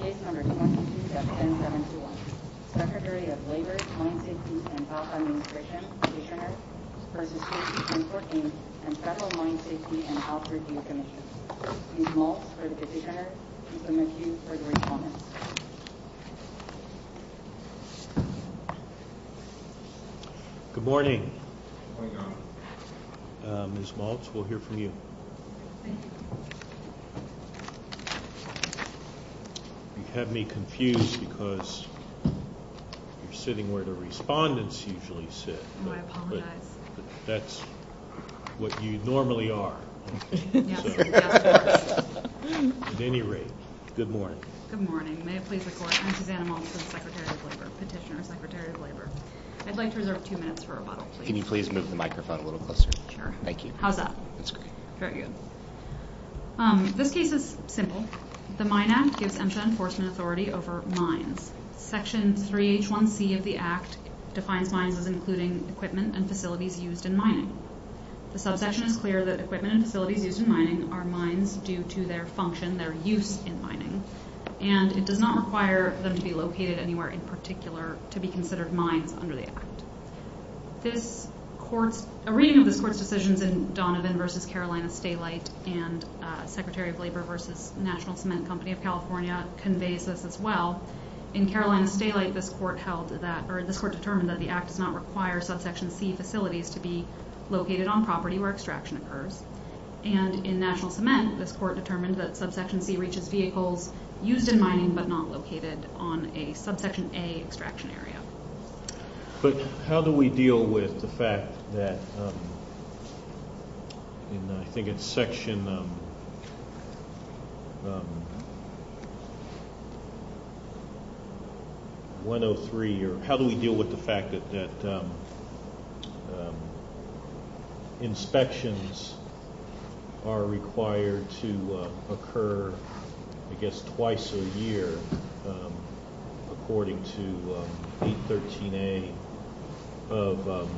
Case No. 22-10721, Secretary of Labor, Mine Safety, and Ops Administration, KC, v. KC Transport, Inc., and Federal Mine Safety and Ops Review Commission. Ms. Maltz for the KC Center, and some of you for the respondents. Good morning. Good morning, Governor. Ms. Maltz, we'll hear from you. Thank you. You have me confused because you're sitting where the respondents usually sit. Oh, I apologize. But that's what you normally are. Yes, yes, of course. At any rate, good morning. Good morning. May it please the Court, I'm Susanna Maltz, the Petitioner, Secretary of Labor. I'd like to reserve two minutes for rebuttal, please. Can you please move the microphone a little closer? Sure. Thank you. How's that? That's great. Very good. This case is simple. The Mine Act gives EMSHA enforcement authority over mines. Section 3H1C of the Act defines mines as including equipment and facilities used in mining. The subsection is clear that equipment and facilities used in mining are mines due to their function, their use in mining, and it does not require them to be located anywhere in particular to be considered mines under the Act. A reading of this Court's decisions in Donovan v. Carolina Stalite and Secretary of Labor v. National Cement Company of California conveys this as well. In Carolina Stalite, this Court determined that the Act does not require subsection C facilities to be located on property where extraction occurs. And in National Cement, this Court determined that subsection C reaches vehicles used in mining but not located on a subsection A extraction area. But how do we deal with the fact that in, I think it's Section 103, or how do we deal with the fact that inspections are required to occur, I guess, twice a year according to 813A of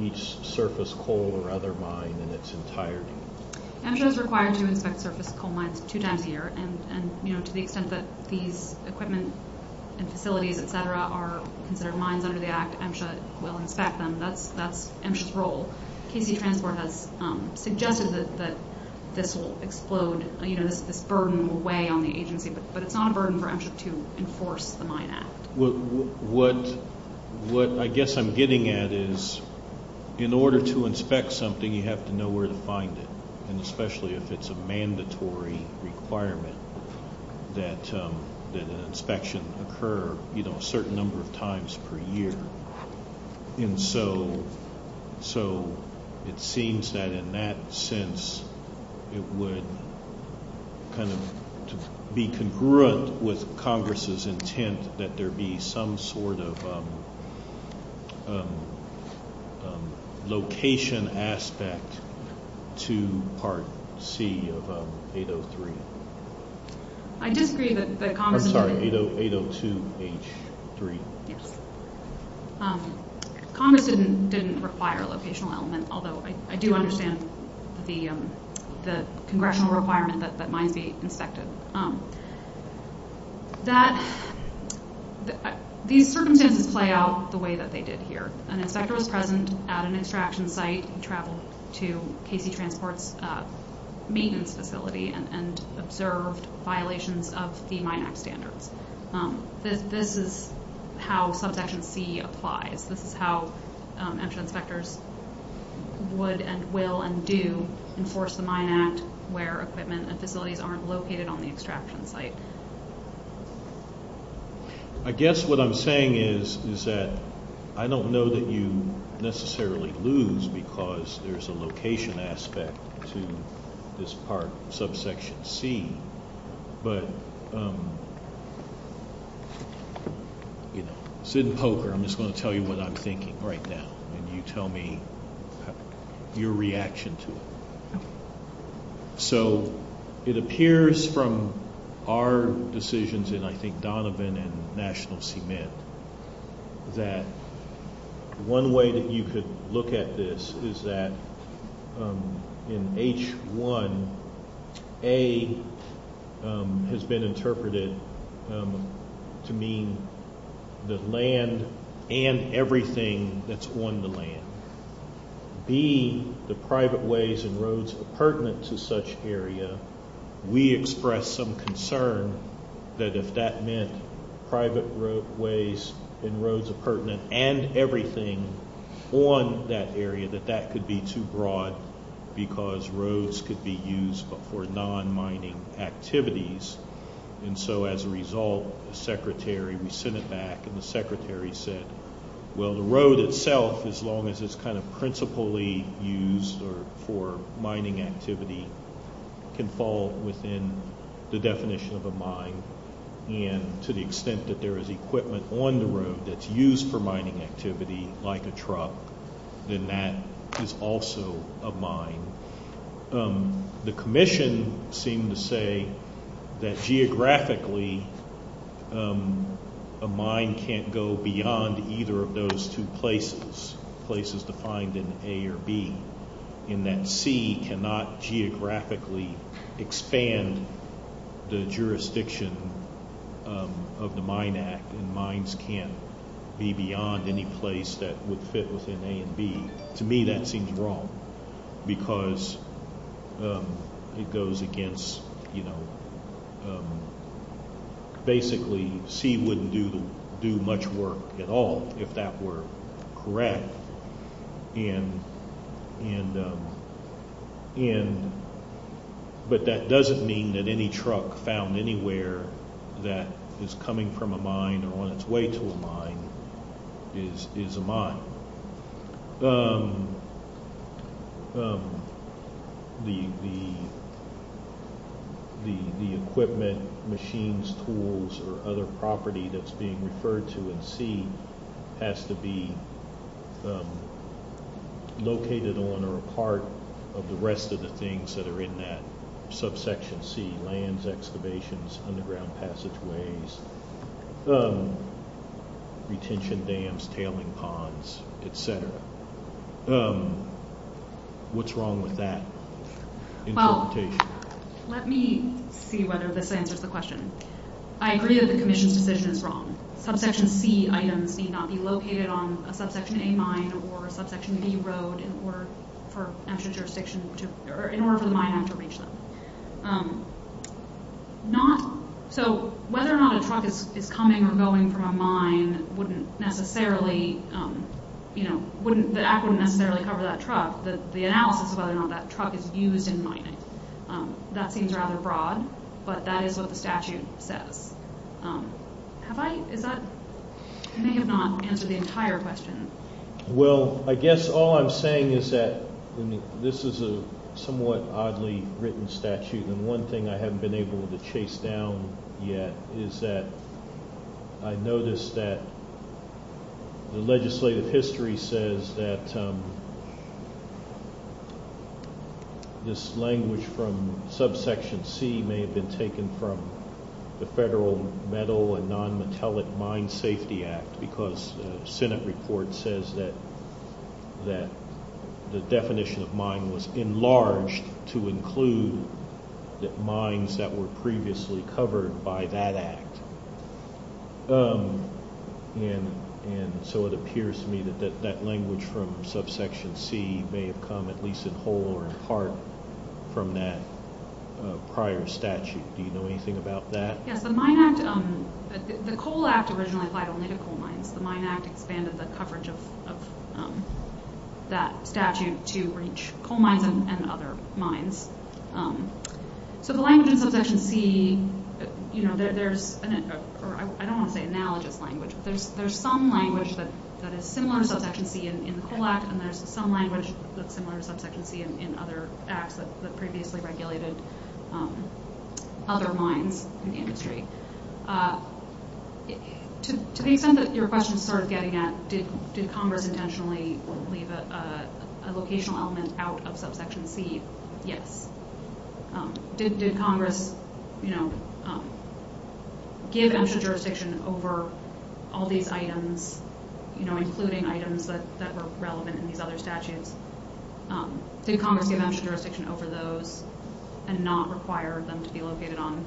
each surface coal or other mine in its entirety? EMSHA is required to inspect surface coal mines two times a year, and to the extent that these equipment and facilities, et cetera, are considered mines under the Act, EMSHA will inspect them. That's EMSHA's role. KC Transport has suggested that this will explode, this burden will weigh on the agency, but it's not a burden for EMSHA to enforce the Mine Act. What I guess I'm getting at is in order to inspect something, you have to know where to find it, and especially if it's a mandatory requirement that an inspection occur a certain number of times per year. And so it seems that in that sense it would kind of be congruent with Congress's intent that there be some sort of location aspect to Part C of 803. I disagree that Congress... I'm sorry, 802H3. Yes. Congress didn't require a locational element, although I do understand the congressional requirement that mines be inspected. These circumstances play out the way that they did here. An inspector was present at an extraction site and traveled to KC Transport's maintenance facility and observed violations of the Mine Act standards. This is how Subsection C applies. This is how EMSHA inspectors would and will and do enforce the Mine Act where equipment and facilities aren't located on the extraction site. I guess what I'm saying is that I don't know that you necessarily lose because there's a location aspect to this Part Subsection C, but, you know, sit and poker. I'm just going to tell you what I'm thinking right now, and you tell me your reaction to it. So it appears from our decisions in, I think, Donovan and National Cement that one way that you could look at this is that in H1, A has been interpreted to mean the land and everything that's on the land. B, the private ways and roads pertinent to such area. We expressed some concern that if that meant private ways and roads pertinent and everything on that area, that that could be too broad because roads could be used for non-mining activities. And so as a result, the Secretary, we sent it back, and the Secretary said, well, the road itself, as long as it's kind of principally used for mining activity, can fall within the definition of a mine. And to the extent that there is equipment on the road that's used for mining activity, like a truck, then that is also a mine. The Commission seemed to say that geographically a mine can't go beyond either of those two places, places defined in A or B, in that C cannot geographically expand the jurisdiction of the Mine Act, and mines can't be beyond any place that would fit within A and B. To me, that seems wrong because it goes against, you know, basically C wouldn't do much work at all if that were correct. But that doesn't mean that any truck found anywhere that is coming from a mine or on its way to a mine is a mine. The equipment, machines, tools, or other property that's being referred to in C has to be located on or a part of the rest of the things that are in that subsection C, What's wrong with that interpretation? Well, let me see whether this answers the question. I agree that the Commission's decision is wrong. Subsection C items need not be located on a subsection A mine or a subsection B road in order for the Mine Act to reach them. So whether or not a truck is coming or going from a mine wouldn't necessarily, you know, the Act wouldn't necessarily cover that truck. The analysis of whether or not that truck is used in mining, that seems rather broad, but that is what the statute says. Have I, is that, I may have not answered the entire question. Well, I guess all I'm saying is that this is a somewhat oddly written statute, and one thing I haven't been able to chase down yet is that I noticed that the legislative history says that this language from subsection C may have been taken from the Federal Metal and Non-Metallic Mine Safety Act because the Senate report says that the definition of mine was enlarged to include the mines that were previously covered by that act. And so it appears to me that that language from subsection C may have come at least in whole or in part from that prior statute. Do you know anything about that? Yes, the Mine Act, the Coal Act originally applied only to coal mines. The Mine Act expanded the coverage of that statute to reach coal mines and other mines. So the language in subsection C, you know, there's, I don't want to say analogous language, but there's some language that is similar to subsection C in the Coal Act, and there's some language that's similar to subsection C in other acts that previously regulated other mines in the industry. To the extent that your question is sort of getting at did Congress intentionally leave a locational element out of subsection C, yes. Did Congress, you know, give extra jurisdiction over all these items, you know, including items that were relevant in these other statutes? Did Congress give extra jurisdiction over those and not require them to be located on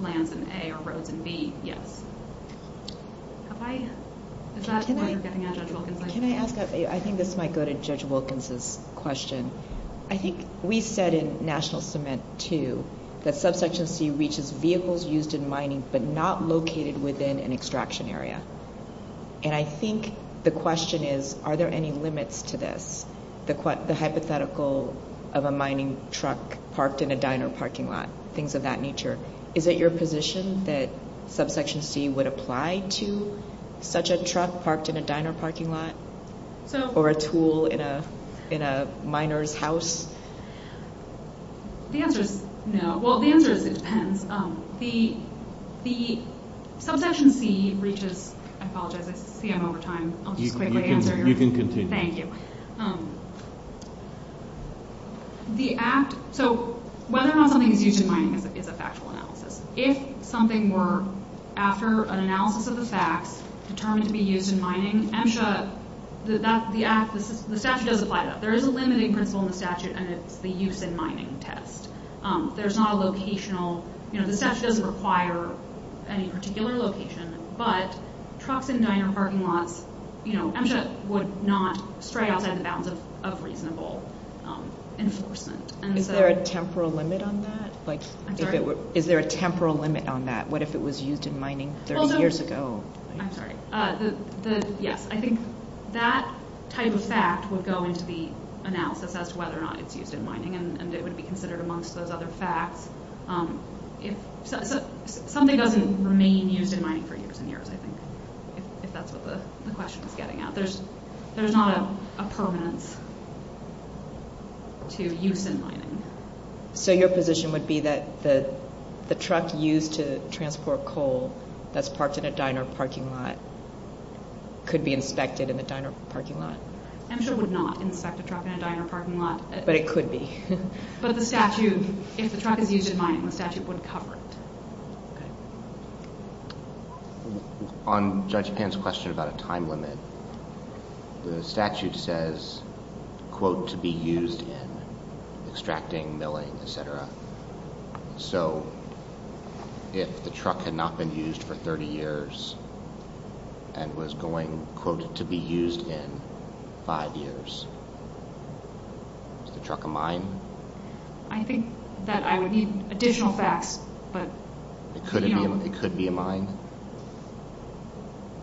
lands in A or roads in B? Yes. Can I ask, I think this might go to Judge Wilkins' question. I think we said in National Cement 2 that subsection C reaches vehicles used in mining but not located within an extraction area. And I think the question is are there any limits to this? The hypothetical of a mining truck parked in a diner parking lot, things of that nature. Is it your position that subsection C would apply to such a truck parked in a diner parking lot or a tool in a miner's house? The answer is no. Well, the answer is it depends. The subsection C reaches, I apologize, I see I'm over time. I'll just quickly answer your question. You can continue. Thank you. The act, so whether or not something is used in mining is a factual analysis. If something were, after an analysis of the facts, determined to be used in mining, MSHA, the act, the statute does apply to that. Is there a temporal limit on that? Is there a temporal limit on that? What if it was used in mining 30 years ago? I'm sorry. Yes, I think that type of fact would go into the analysis as to whether or not it's used in mining and it would be considered amongst those other facts. Something doesn't remain used in mining for years and years, I think, if that's what the question is getting at. There's not a permanence to use in mining. So your position would be that the truck used to transport coal that's parked in a diner parking lot could be inspected in the diner parking lot? MSHA would not inspect a truck in a diner parking lot. But it could be. But the statute, if the truck is used in mining, the statute would cover it. On Judge Pan's question about a time limit, the statute says, quote, to be used in extracting, milling, etc. So if the truck had not been used for 30 years and was going, quote, to be used in five years, is the truck a mine? I think that I would need additional facts, but... It could be a mine?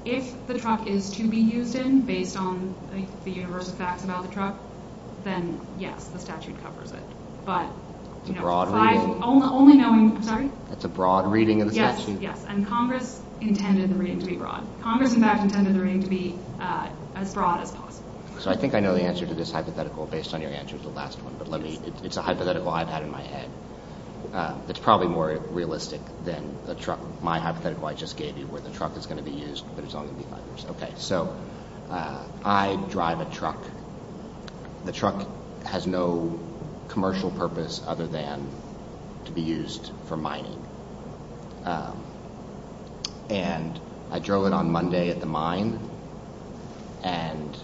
If the truck is to be used in, based on the universe of facts about the truck, then yes, the statute covers it. It's a broad reading? Sorry? It's a broad reading of the statute? Yes, and Congress intended the reading to be broad. Congress, in fact, intended the reading to be as broad as possible. So I think I know the answer to this hypothetical based on your answer to the last one. It's a hypothetical I've had in my head. It's probably more realistic than my hypothetical I just gave you where the truck is going to be used, but it's only going to be five years. Okay, so I drive a truck. The truck has no commercial purpose other than to be used for mining. And I drove it on Monday at the mine, and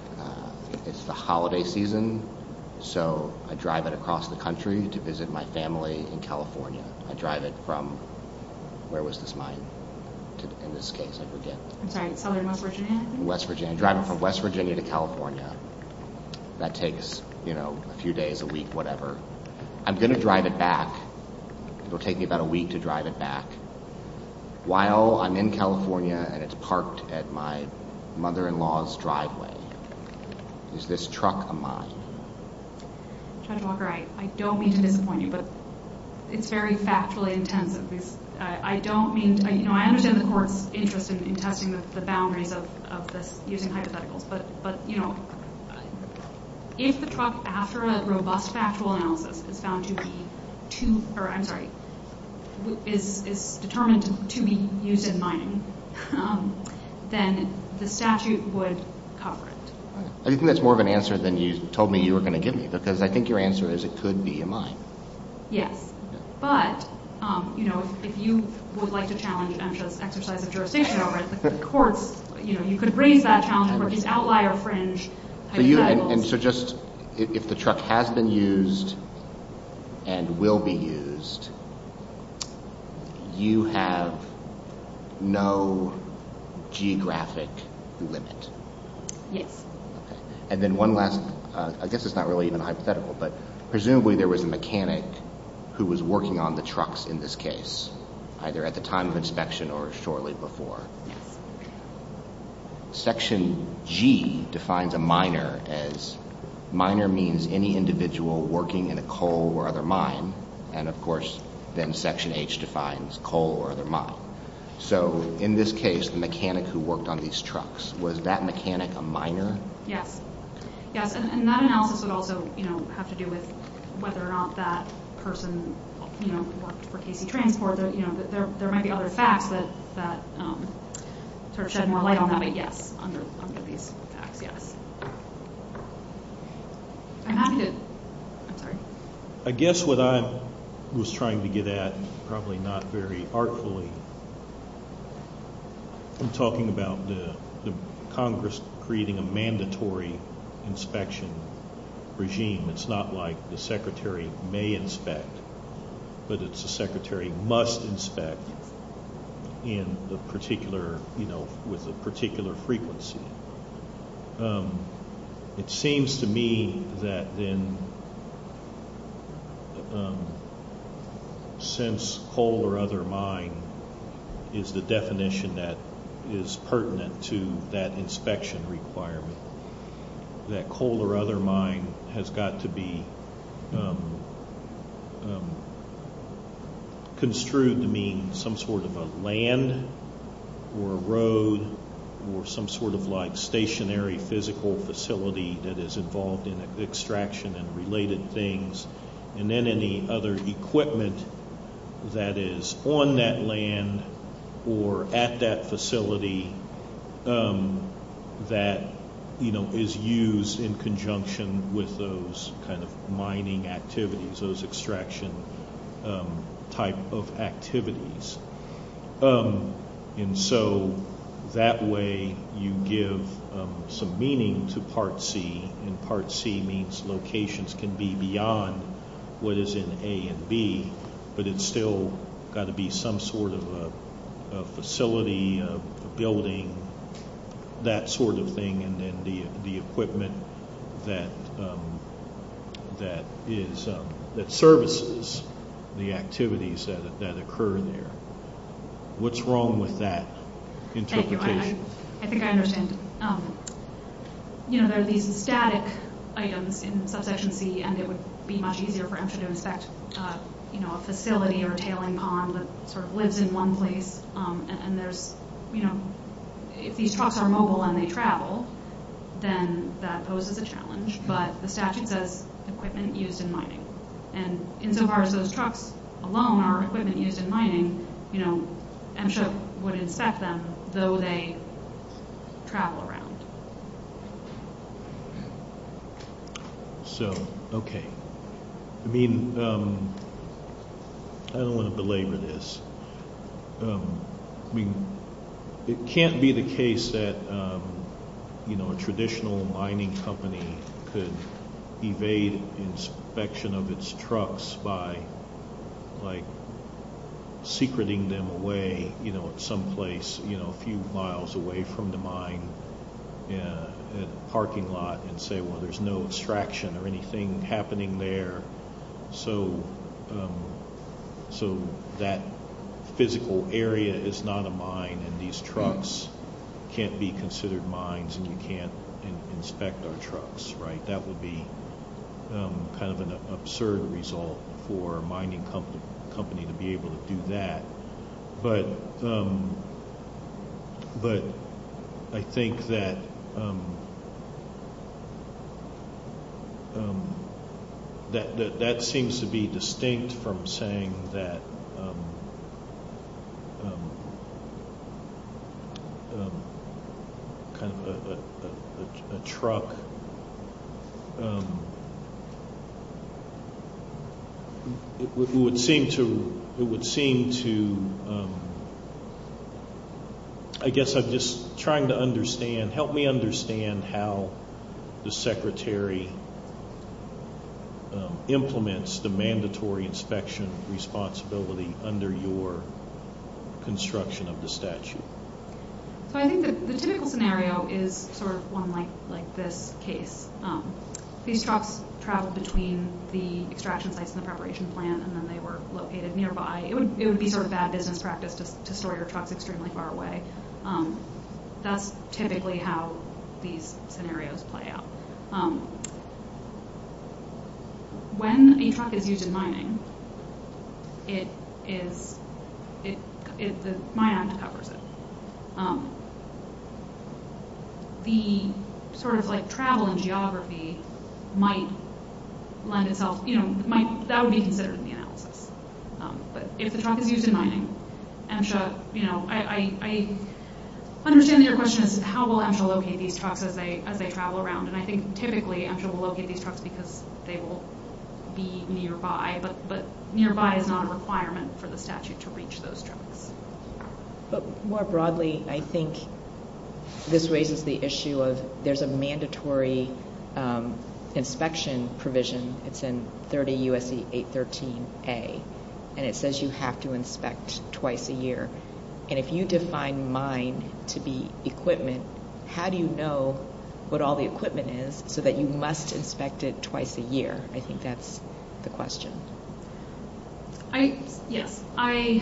it's the holiday season, so I drive it across the country to visit my family in California. I drive it from, where was this mine? In this case, I forget. I'm sorry, Southern West Virginia, I think? West Virginia. I drive it from West Virginia to California. That takes, you know, a few days, a week, whatever. I'm going to drive it back. It'll take me about a week to drive it back while I'm in California and it's parked at my mother-in-law's driveway. Is this truck a mine? Judge Walker, I don't mean to disappoint you, but it's very factually intensive. I don't mean to, you know, I understand the court's interest in testing the boundaries of this using hypotheticals, but, you know, if the truck, after a robust factual analysis, is determined to be used in mining, then the statute would cover it. I think that's more of an answer than you told me you were going to give me, because I think your answer is it could be a mine. Yes. But, you know, if you would like to challenge MSHA's exercise of jurisdiction over it, the courts, you know, you could raise that challenge over these outlier fringe hypotheticals. And so just, if the truck has been used and will be used, you have no geographic limit? Yes. And then one last, I guess it's not really even a hypothetical, but presumably there was a mechanic who was working on the trucks in this case, either at the time of inspection or shortly before. Yes. Section G defines a miner as, miner means any individual working in a coal or other mine. And, of course, then Section H defines coal or other mine. So, in this case, the mechanic who worked on these trucks, was that mechanic a miner? Yes. Yes. And that analysis would also, you know, have to do with whether or not that person, you know, worked for KC Transport. You know, there might be other facts that sort of shed more light on that, but yes, under these facts, yes. I'm happy to, I'm sorry. I guess what I was trying to get at, probably not very artfully, I'm talking about the Congress creating a mandatory inspection regime. It's not like the secretary may inspect, but it's the secretary must inspect in the particular, you know, with a particular frequency. It seems to me that then, since coal or other mine is the definition that is pertinent to that inspection requirement, that coal or other mine has got to be construed to mean some sort of a land or a road or some sort of like stationary physical facility that is involved in extraction and related things. And then any other equipment that is on that land or at that facility that, you know, is used in conjunction with those kind of mining activities, those extraction type of activities. And so that way you give some meaning to Part C, and Part C means locations can be beyond what is in A and B, but it's still got to be some sort of a facility, a building, that sort of thing. And then the equipment that is, that services the activities that occur there. What's wrong with that interpretation? Thank you. I think I understand. You know, there are these static items in Subsection C, and it would be much easier for them to inspect, you know, a facility or a tailing pond that sort of lives in one place. And there's, you know, if these trucks are mobile and they travel, then that poses a challenge. But the statute says equipment used in mining. And insofar as those trucks alone are equipment used in mining, you know, MSHA would inspect them, though they travel around. So, okay. I mean, I don't want to belabor this. I mean, it can't be the case that, you know, a traditional mining company could evade inspection of its trucks by, like, secreting them away, you know, someplace, you know, a few miles away from the mine in a parking lot and say, well, there's no extraction or anything happening there. So that physical area is not a mine, and these trucks can't be considered mines, and you can't inspect our trucks, right? That would be kind of an absurd result for a mining company to be able to do that. But I think that that seems to be distinct from saying that kind of a truck. It would seem to, I guess I'm just trying to understand, help me understand how the secretary implements the mandatory inspection responsibility under your construction of the statute. So I think that the typical scenario is sort of one like this case. These trucks travel between the extraction sites and the preparation plant, and then they were located nearby. It would be sort of bad business practice to store your trucks extremely far away. That's typically how these scenarios play out. When a truck is used in mining, it is, the mine act covers it. The sort of, like, travel and geography might lend itself, you know, that would be considered in the analysis. But if the truck is used in mining, MSHA, you know, I understand your question is how will MSHA locate these trucks as they travel around? And I think typically MSHA will locate these trucks because they will be nearby. But nearby is not a requirement for the statute to reach those trucks. But more broadly, I think this raises the issue of there's a mandatory inspection provision. It's in 30 U.S.C. 813a, and it says you have to inspect twice a year. And if you define mine to be equipment, how do you know what all the equipment is so that you must inspect it twice a year? I think that's the question. Yes, I,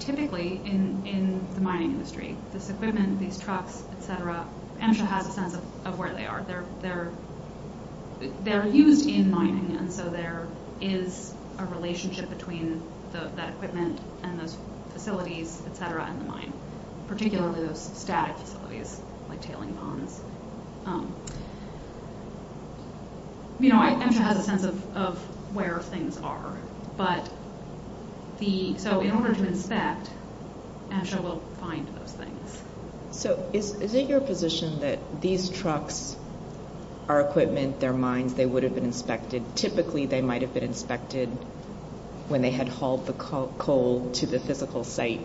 typically in the mining industry, this equipment, these trucks, et cetera, MSHA has a sense of where they are. They're used in mining, and so there is a relationship between that equipment and those facilities, et cetera, in the mine, particularly those static facilities like tailing ponds. You know, MSHA has a sense of where things are. But the, so in order to inspect, MSHA will find those things. So is it your position that these trucks are equipment, they're mines, they would have been inspected? Typically they might have been inspected when they had hauled the coal to the physical site,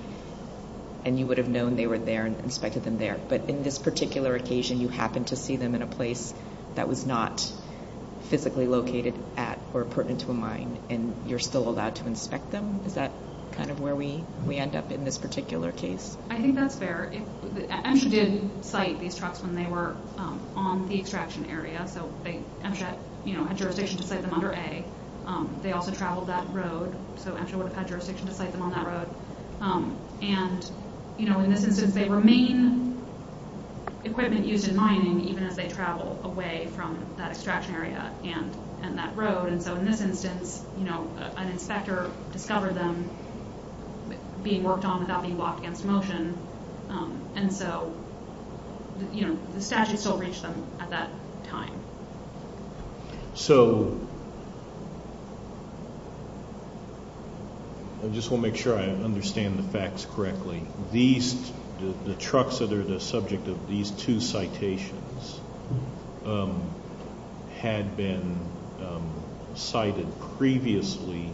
and you would have known they were there and inspected them there. But in this particular occasion, you happened to see them in a place that was not physically located at or pertinent to a mine, and you're still allowed to inspect them? Is that kind of where we end up in this particular case? I think that's fair. MSHA did cite these trucks when they were on the extraction area, so MSHA had jurisdiction to cite them under A. They also traveled that road, so MSHA would have had jurisdiction to cite them on that road. And, you know, in this instance, they remain equipment used in mining, even as they travel away from that extraction area and that road. And so in this instance, you know, an inspector discovered them being worked on without being blocked against motion. And so, you know, the statute still reached them at that time. So I just want to make sure I understand the facts correctly. The trucks that are the subject of these two citations had been cited previously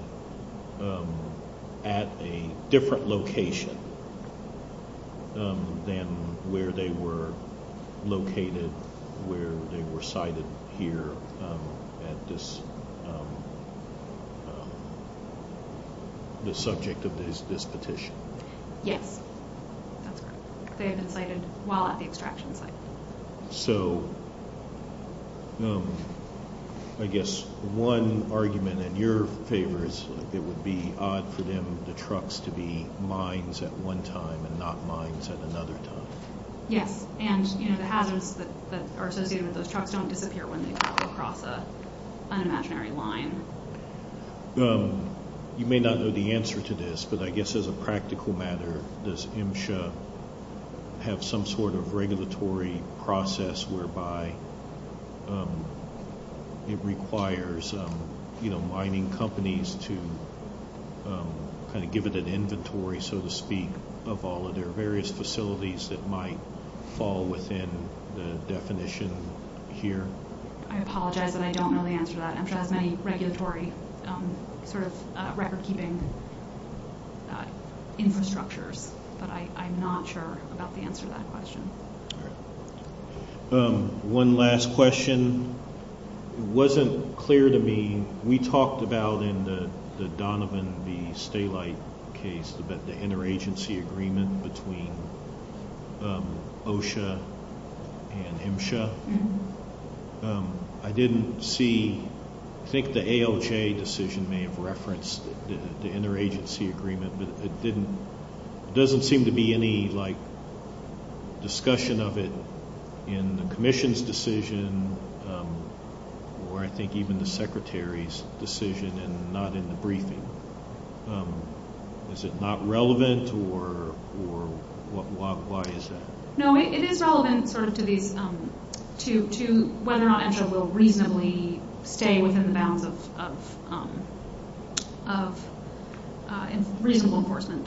at a different location than where they were located, where they were cited here at this, the subject of this petition. Yes, that's correct. They have been cited while at the extraction site. So I guess one argument in your favor is it would be odd for them, the trucks, to be mines at one time and not mines at another time. Yes, and, you know, the hazards that are associated with those trucks don't disappear when they travel across an imaginary line. You may not know the answer to this, but I guess as a practical matter, does MSHA have some sort of regulatory process whereby it requires, you know, mining companies to kind of give it an inventory, so to speak, of all of their various facilities that might fall within the definition here? I apologize, but I don't know the answer to that. MSHA has many regulatory sort of record-keeping infrastructures, but I'm not sure about the answer to that question. All right. One last question. It wasn't clear to me. We talked about in the Donovan v. Stalite case the interagency agreement between OSHA and MSHA. I didn't see, I think the ALJ decision may have referenced the interagency agreement, but it doesn't seem to be any, like, discussion of it in the Commission's decision or I think even the Secretary's decision and not in the briefing. Is it not relevant or why is that? No, it is relevant sort of to whether or not MSHA will reasonably stay within the bounds of reasonable enforcement.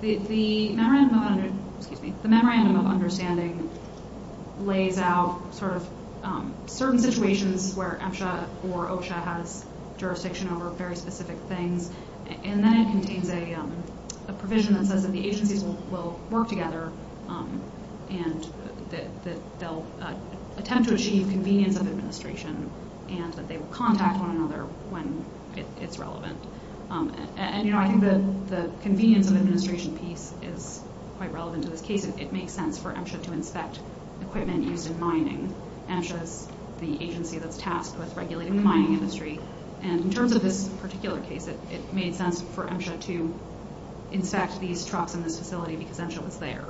The Memorandum of Understanding lays out sort of certain situations where MSHA or OSHA has jurisdiction over very specific things, and then it contains a provision that says that the agencies will work together and that they'll attempt to achieve convenience of administration and that they will contact one another when it's relevant. And, you know, I think the convenience of administration piece is quite relevant to this case. It makes sense for MSHA to inspect equipment used in mining. MSHA is the agency that's tasked with regulating the mining industry. And in terms of this particular case, it made sense for MSHA to inspect these trucks in this facility because MSHA was there.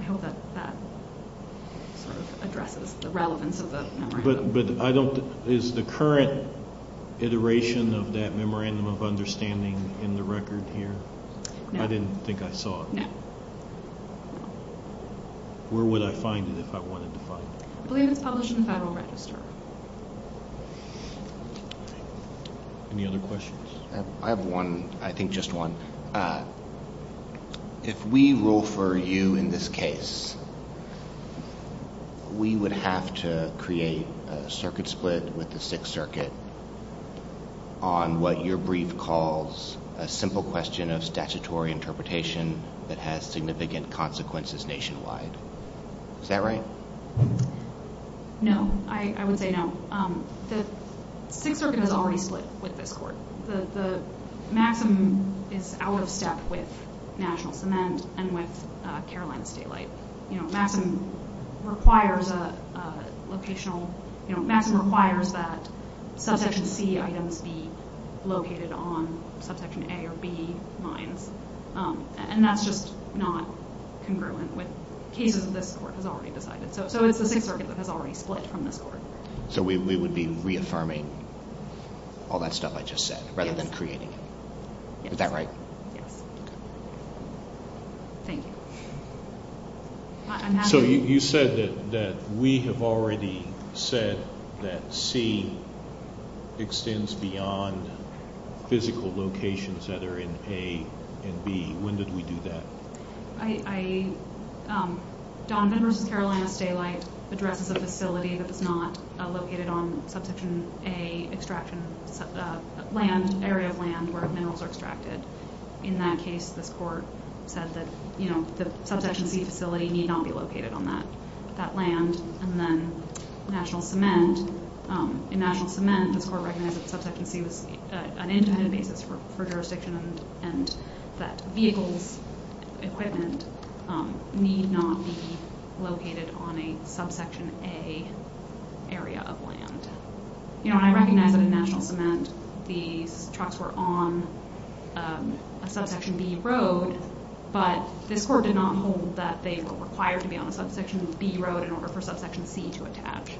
I hope that that sort of addresses the relevance of the Memorandum. But I don't, is the current iteration of that Memorandum of Understanding in the record here? No. I didn't think I saw it. No. Where would I find it if I wanted to find it? I believe it's published in the Federal Register. Any other questions? I have one, I think just one. If we rule for you in this case, we would have to create a circuit split with the Sixth Circuit on what your brief calls a simple question of statutory interpretation that has significant consequences nationwide. Is that right? No. I would say no. The Sixth Circuit is already split with this court. Maxim is out of step with National Cement and with Carolina State Light. Maxim requires that subsection C items be located on subsection A or B mines. And that's just not congruent with cases this court has already decided. So it's the Sixth Circuit that has already split from this court. So we would be reaffirming all that stuff I just said rather than creating it. Yes. Is that right? Yes. Thank you. So you said that we have already said that C extends beyond physical locations that are in A and B. When did we do that? Donovan v. Carolina State Light addresses a facility that is not located on subsection A extraction land, an area of land where minerals are extracted. In that case, this court said that the subsection C facility need not be located on that land. And then National Cement, in National Cement, this court recognized that subsection C was an independent basis for jurisdiction and that vehicles, equipment, need not be located on a subsection A area of land. You know, I recognize that in National Cement these trucks were on a subsection B road, but this court did not hold that they were required to be on a subsection B road in order for subsection C to attach.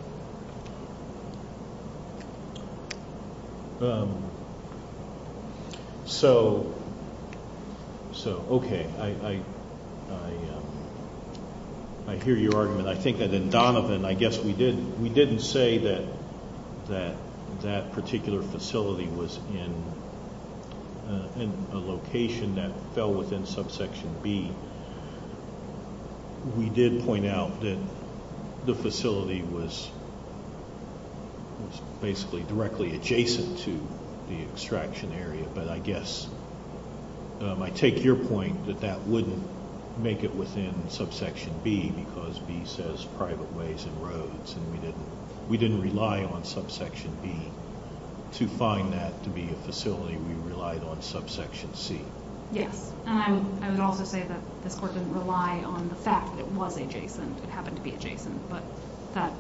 So, okay. I hear your argument. I think that in Donovan, I guess we didn't say that that particular facility was in a location that fell within subsection B. We did point out that the facility was basically directly adjacent to the extraction area, but I guess I take your point that that wouldn't make it within subsection B because B says private ways and roads, and we didn't rely on subsection B to find that to be a facility. We relied on subsection C. Yes, and I would also say that this court didn't rely on the fact that it was adjacent. It happened to be adjacent, but that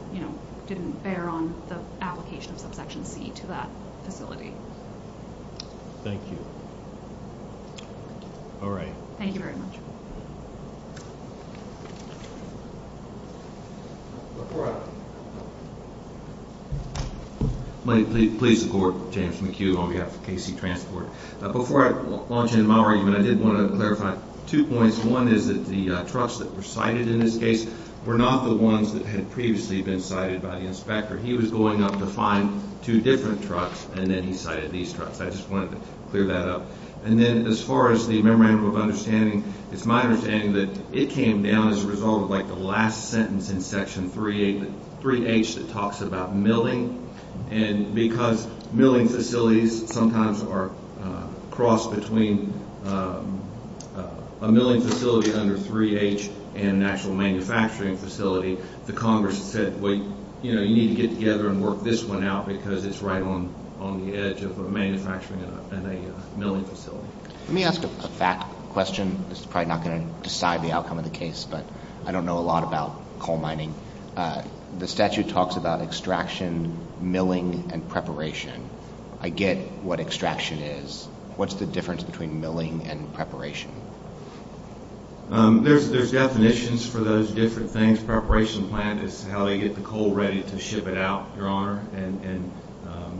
didn't bear on the application of subsection C to that facility. Thank you. All right. Thank you very much. Please support James McHugh on behalf of KC Transport. Before I launch into my argument, I did want to clarify two points. One is that the trucks that were cited in this case were not the ones that had previously been cited by the inspector. He was going up to find two different trucks, and then he cited these trucks. I just wanted to clear that up. And then as far as the memorandum of understanding, it's my understanding that it came down as a result of, like, the last sentence in section 3H that talks about milling, and because milling facilities sometimes are crossed between a milling facility under 3H and an actual manufacturing facility, the Congress said, well, you know, you need to get together and work this one out because it's right on the edge of a manufacturing and a milling facility. Let me ask a fact question. This is probably not going to decide the outcome of the case, but I don't know a lot about coal mining. The statute talks about extraction, milling, and preparation. I get what extraction is. What's the difference between milling and preparation? There's definitions for those different things. Preparation plant is how they get the coal ready to ship it out, Your Honor, and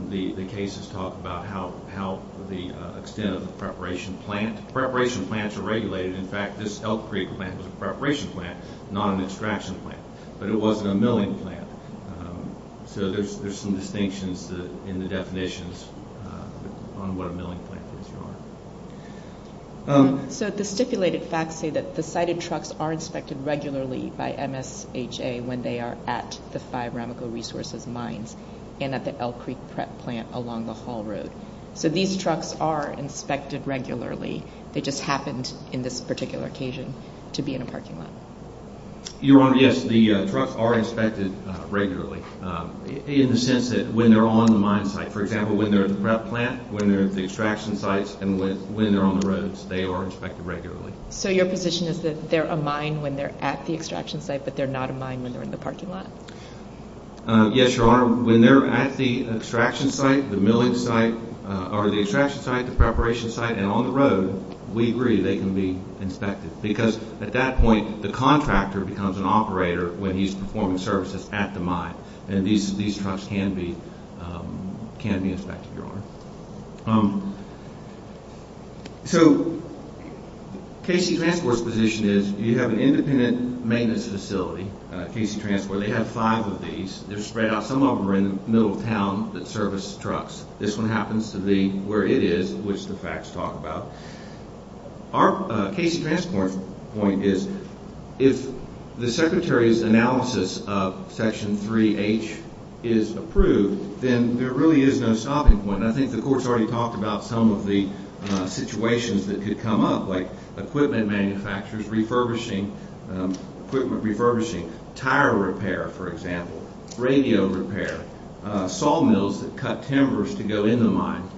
the cases talk about how the extent of the preparation plant. Preparation plants are regulated. In fact, this Elk Creek plant was a preparation plant, not an extraction plant, but it wasn't a milling plant. So there's some distinctions in the definitions on what a milling plant is, Your Honor. So the stipulated facts say that the sited trucks are inspected regularly by MSHA when they are at the five Ramico Resources mines and at the Elk Creek prep plant along the Hall Road. So these trucks are inspected regularly. They just happened in this particular occasion to be in a parking lot. Your Honor, yes, the trucks are inspected regularly in the sense that when they're on the mine site, for example, when they're at the prep plant, when they're at the extraction sites, and when they're on the roads, they are inspected regularly. So your position is that they're a mine when they're at the extraction site, but they're not a mine when they're in the parking lot? Yes, Your Honor. When they're at the extraction site, the milling site, or the extraction site, the preparation site, and on the road, we agree they can be inspected because at that point the contractor becomes an operator when he's performing services at the mine, and these trucks can be inspected, Your Honor. So KC Transport's position is you have an independent maintenance facility, KC Transport. They have five of these. They're spread out. Some of them are in the middle of town that service trucks. This one happens to be where it is, which the facts talk about. Our KC Transport point is if the Secretary's analysis of Section 3H is approved, then there really is no stopping point, and I think the Court's already talked about some of the situations that could come up, like equipment manufacturers refurbishing, equipment refurbishing, tire repair, for example, radio repair, sawmills that cut timbers to go in the mine.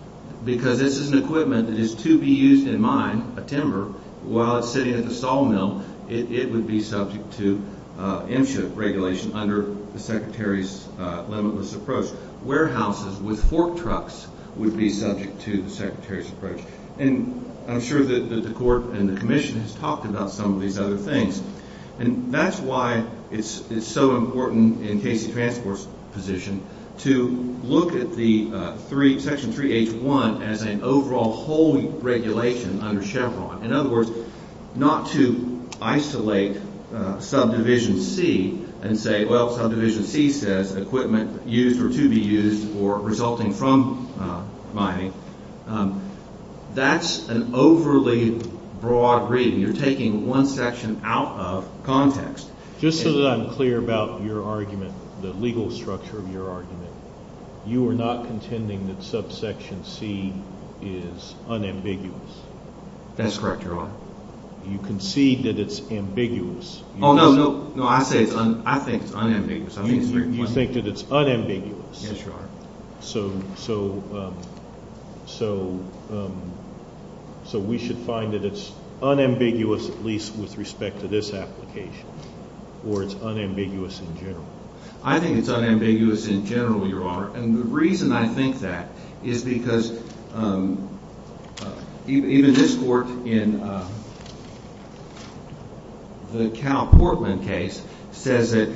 Because this is an equipment that is to be used in a mine, a timber, while it's sitting at the sawmill, it would be subject to MSHA regulation under the Secretary's limitless approach. Warehouses with fork trucks would be subject to the Secretary's approach, and I'm sure that the Court and the Commission has talked about some of these other things, and that's why it's so important in KC Transport's position to look at Section 3H-1 as an overall whole regulation under Chevron. In other words, not to isolate Subdivision C and say, well, Subdivision C says equipment used or to be used or resulting from mining. That's an overly broad reading. You're taking one section out of context. Just so that I'm clear about your argument, the legal structure of your argument, you are not contending that Subsection C is unambiguous. That's correct, Your Honor. You concede that it's ambiguous. Oh, no, no, I think it's unambiguous. You think that it's unambiguous. Yes, Your Honor. So we should find that it's unambiguous at least with respect to this application or it's unambiguous in general? I think it's unambiguous in general, Your Honor, and the reason I think that is because even this Court in the Cal Portland case says that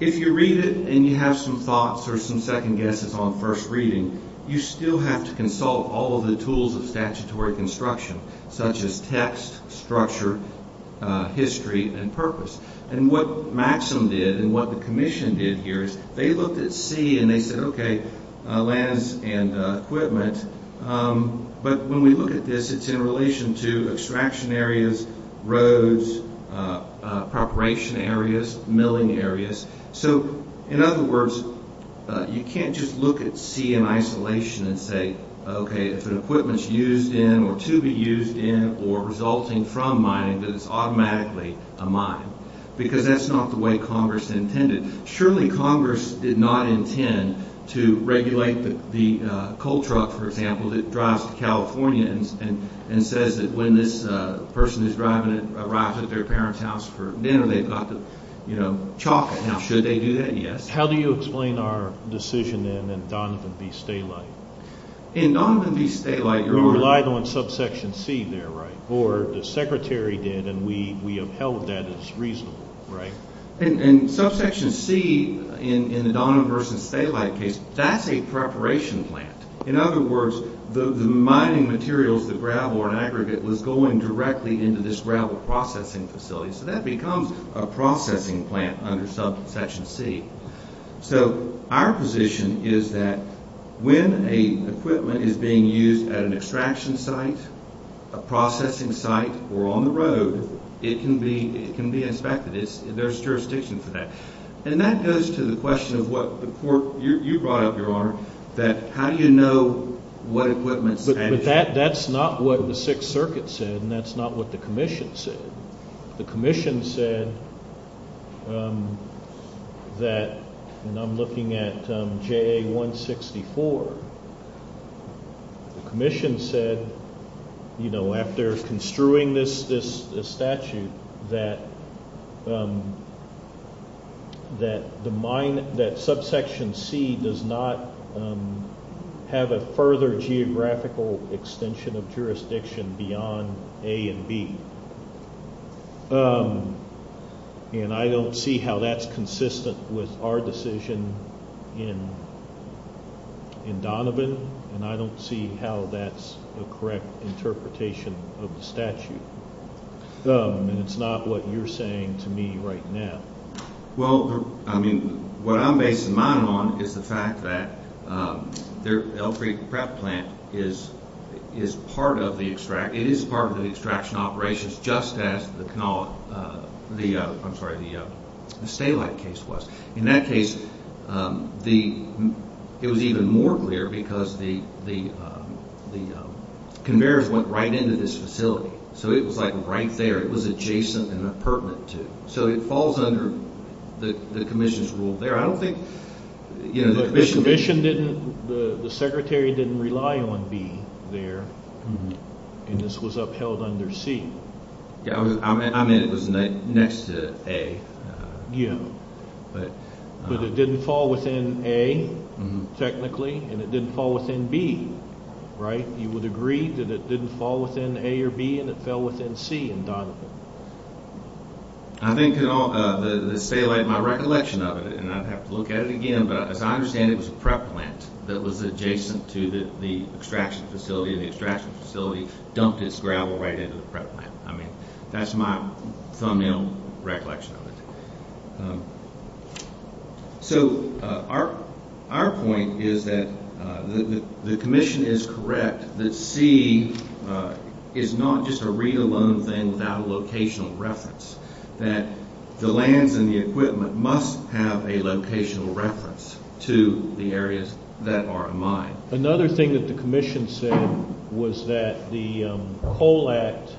if you read it and you have some thoughts or some second guesses on first reading, you still have to consult all of the tools of statutory construction such as text, structure, history, and purpose. And what Maxim did and what the Commission did here is they looked at C and they said, okay, lands and equipment, but when we look at this, it's in relation to extraction areas, roads, preparation areas, milling areas. So, in other words, you can't just look at C in isolation and say, okay, if an equipment's used in or to be used in or resulting from mining, that it's automatically a mine, because that's not the way Congress intended. Surely Congress did not intend to regulate the coal truck, for example, that drives to California and says that when this person who's driving it arrives at their parent's house for dinner, they've got to, you know, chalk it. Now, should they do that? Yes. How do you explain our decision in Donovan v. Stalite? In Donovan v. Stalite, Your Honor. You relied on subsection C there, right? Or the Secretary did and we upheld that as reasonable, right? In subsection C in the Donovan v. Stalite case, that's a preparation plant. In other words, the mining materials, the gravel or an aggregate, was going directly into this gravel processing facility. So that becomes a processing plant under subsection C. So our position is that when an equipment is being used at an extraction site, a processing site, or on the road, it can be inspected. There's jurisdiction for that. And that goes to the question of what the court, you brought up, Your Honor, that how do you know what equipment's at issue? But that's not what the Sixth Circuit said, and that's not what the commission said. The commission said that, and I'm looking at JA-164, the commission said, you know, after construing this statute, that subsection C does not have a further geographical extension of jurisdiction beyond A and B. And I don't see how that's consistent with our decision in Donovan, and I don't see how that's a correct interpretation of the statute. And it's not what you're saying to me right now. Well, I mean, what I'm basing mine on is the fact that the Elk Creek PrEP plant is part of the extraction, it is part of the extraction operations, just as the stay-alike case was. In that case, it was even more clear because the conveyors went right into this facility. So it was, like, right there. It was adjacent and pertinent to it. So it falls under the commission's rule there. I don't think, you know, the commission didn't. The commission didn't. The secretary didn't rely on B there, and this was upheld under C. Yeah, I meant it was next to A. Yeah, but it didn't fall within A technically, and it didn't fall within B, right? You would agree that it didn't fall within A or B and it fell within C in Donovan? I think the stay-alike, my recollection of it, and I'd have to look at it again, but as I understand it, it was a PrEP plant that was adjacent to the extraction facility, and the extraction facility dumped its gravel right into the PrEP plant. I mean, that's my thumbnail recollection of it. So our point is that the commission is correct that C is not just a read-alone thing without a locational reference, that the lands and the equipment must have a locational reference to the areas that are a mine. Another thing that the commission said was that the coal act,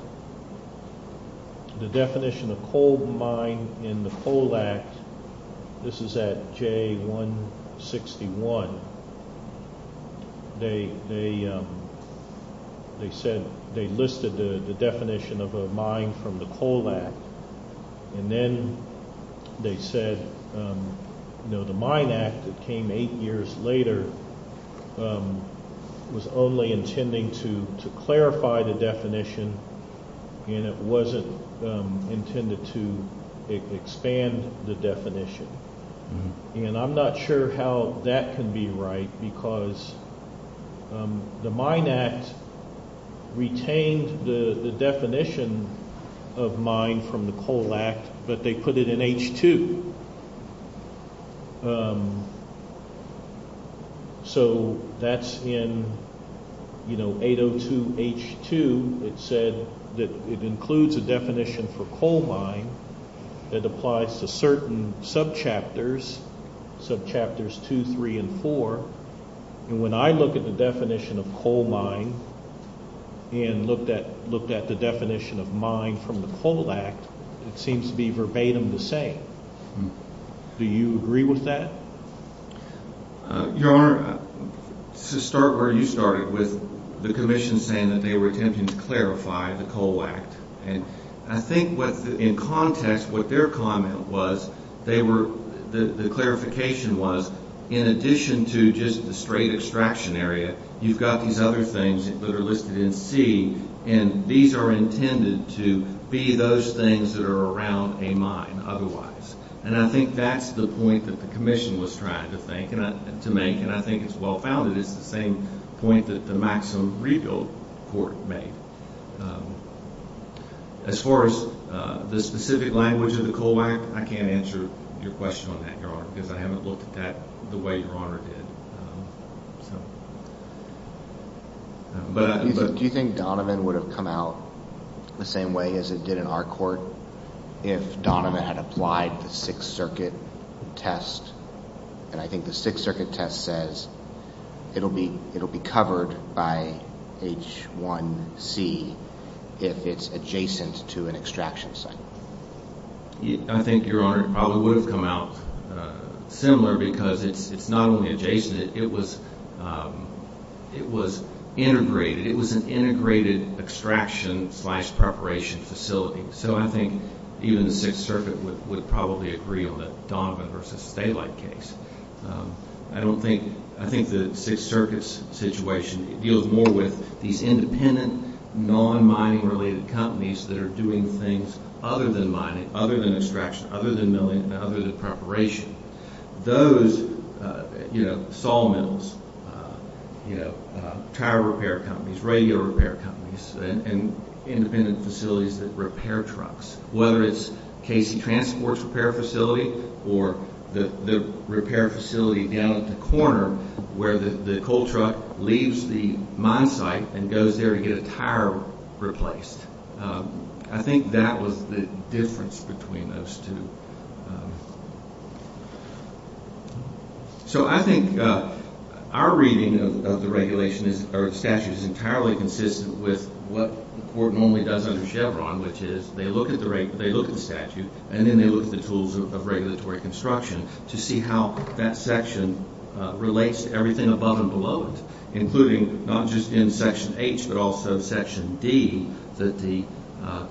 the definition of coal mine in the coal act, this is at J161, they said they listed the definition of a mine from the coal act, and then they said the mine act that came eight years later was only intending to clarify the definition, and it wasn't intended to expand the definition. And I'm not sure how that can be right because the mine act retained the definition of mine from the coal act, but they put it in H2. So that's in 802 H2, it said that it includes a definition for coal mine that applies to certain subchapters, subchapters 2, 3, and 4, and when I look at the definition of coal mine and looked at the definition of mine from the coal act, it seems to be verbatim the same. Do you agree with that? Your Honor, to start where you started with the commission saying that they were attempting to clarify the coal act, I think in context what their comment was, the clarification was, in addition to just the straight extraction area, you've got these other things that are listed in C, and these are intended to be those things that are around a mine otherwise. And I think that's the point that the commission was trying to make, and I think it's well-founded. It's the same point that the Maxim Regal Court made. As far as the specific language of the coal act, I can't answer your question on that, Your Honor, because I haven't looked at that the way Your Honor did. Do you think Donovan would have come out the same way as it did in our court if Donovan had applied the Sixth Circuit test? And I think the Sixth Circuit test says it will be covered by H1C if it's adjacent to an extraction site. I think, Your Honor, it probably would have come out similar because it's not only adjacent, it was integrated. It was an integrated extraction slash preparation facility. So I think even the Sixth Circuit would probably agree on the Donovan versus Stalite case. I don't think the Sixth Circuit's situation deals more with these independent, non-mining-related companies that are doing things other than mining, other than extraction, other than milling, and other than preparation. Those, you know, saw mills, you know, tower repair companies, radio repair companies, and independent facilities that repair trucks, whether it's Casey Transport's repair facility or the repair facility down at the corner where the coal truck leaves the mine site and goes there to get a tire replaced. I think that was the difference between those two. So I think our reading of the regulation or statute is entirely consistent with what the court normally does under Chevron, which is they look at the statute, and then they look at the tools of regulatory construction to see how that section relates to everything above and below it, including not just in Section H, but also Section D that the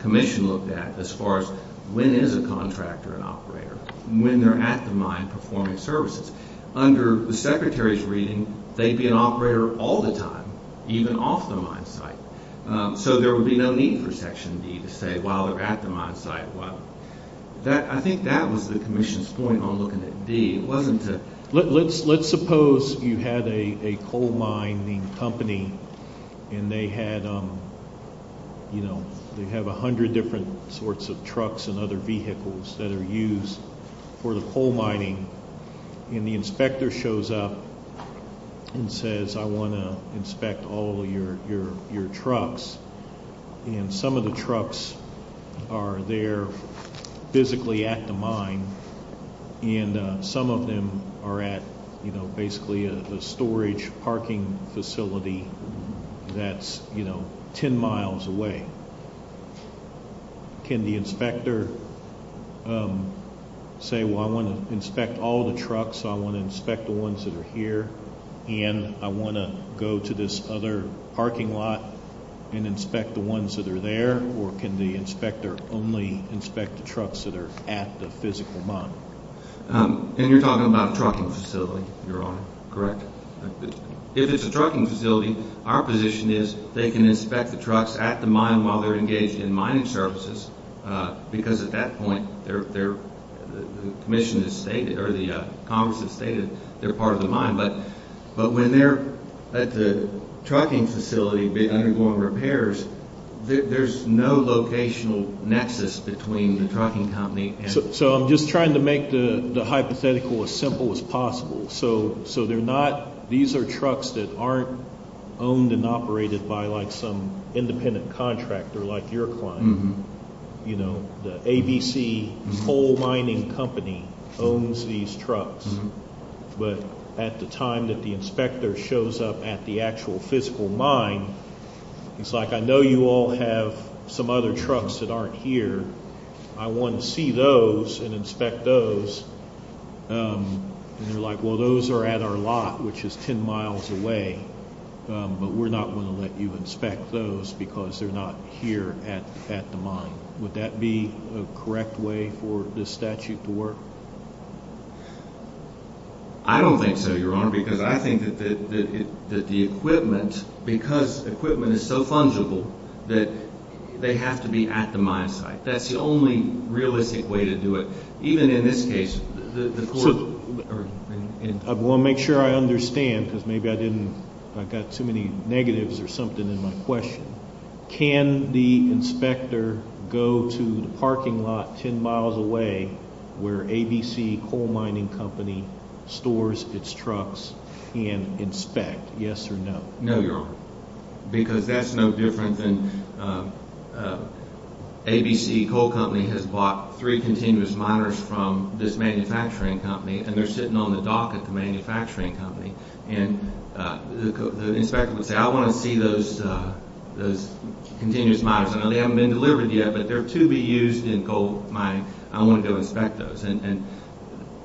Commission looked at as far as when is a contractor an operator, when they're at the mine performing services. Under the Secretary's reading, they'd be an operator all the time, even off the mine site. So there would be no need for Section D to say, while they're at the mine site, while they're not. I think that was the Commission's point on looking at D. Let's suppose you had a coal mining company, and they have a hundred different sorts of trucks and other vehicles that are used for the coal mining, and the inspector shows up and says, I want to inspect all of your trucks, and some of the trucks are there physically at the mine, and some of them are at basically a storage parking facility that's ten miles away. Can the inspector say, well, I want to inspect all the trucks, I want to inspect the ones that are here, and I want to go to this other parking lot and inspect the ones that are there, or can the inspector only inspect the trucks that are at the physical mine? And you're talking about a trucking facility, Your Honor? Correct. If it's a trucking facility, our position is they can inspect the trucks at the mine while they're engaged in mining services, because at that point, the Commission has stated, or the Congress has stated they're part of the mine. But when they're at the trucking facility undergoing repairs, there's no locational nexus between the trucking company. So I'm just trying to make the hypothetical as simple as possible. So they're not, these are trucks that aren't owned and operated by like some independent contractor like your client. You know, the ABC Coal Mining Company owns these trucks, but at the time that the inspector shows up at the actual physical mine, he's like, I know you all have some other trucks that aren't here. I want to see those and inspect those. And they're like, well, those are at our lot, which is ten miles away, but we're not going to let you inspect those because they're not here at the mine. Would that be a correct way for this statute to work? I don't think so, Your Honor, because I think that the equipment, because equipment is so fungible, that they have to be at the mine site. That's the only realistic way to do it. Even in this case, the floor. I want to make sure I understand because maybe I didn't, I've got too many negatives or something in my question. Can the inspector go to the parking lot ten miles away where ABC Coal Mining Company stores its trucks and inspect, yes or no? No, Your Honor, because that's no different than ABC Coal Company has bought three continuous miners from this manufacturing company. And they're sitting on the dock at the manufacturing company. And the inspector would say, I want to see those continuous miners. I know they haven't been delivered yet, but they're to be used in coal mining. I want to go inspect those. And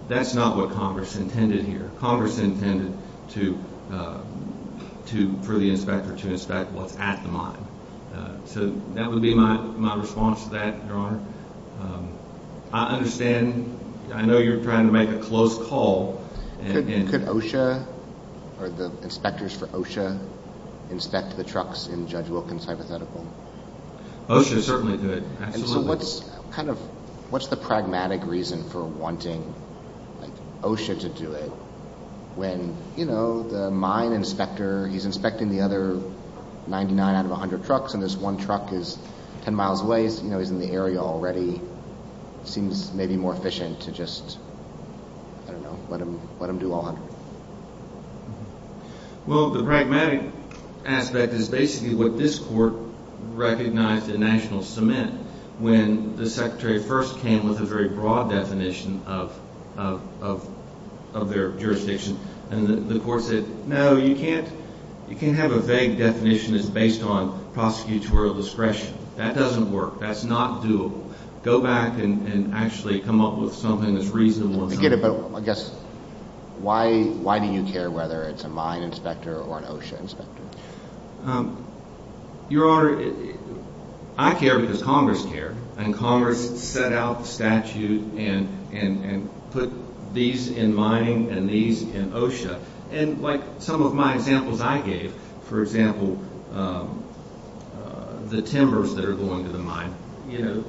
that's not what Congress intended here. Congress intended for the inspector to inspect what's at the mine. So that would be my response to that, Your Honor. I understand. I know you're trying to make a close call. Could OSHA or the inspectors for OSHA inspect the trucks in Judge Wilkins' hypothetical? OSHA would certainly do it, absolutely. And so what's kind of, what's the pragmatic reason for wanting OSHA to do it when, you know, the mine inspector, he's inspecting the other 99 out of 100 trucks, and this one truck is 10 miles away. You know, he's in the area already. It seems maybe more efficient to just, I don't know, let him do all 100. Well, the pragmatic aspect is basically what this Court recognized in national cement when the Secretary first came with a very broad definition of their jurisdiction. And the Court said, no, you can't have a vague definition that's based on prosecutorial discretion. That doesn't work. That's not doable. Go back and actually come up with something that's reasonable. I get it. But I guess why do you care whether it's a mine inspector or an OSHA inspector? Your Honor, I care because Congress cared. And Congress set out the statute and put these in mining and these in OSHA. And like some of my examples I gave, for example, the timbers that are going to the mine, you know,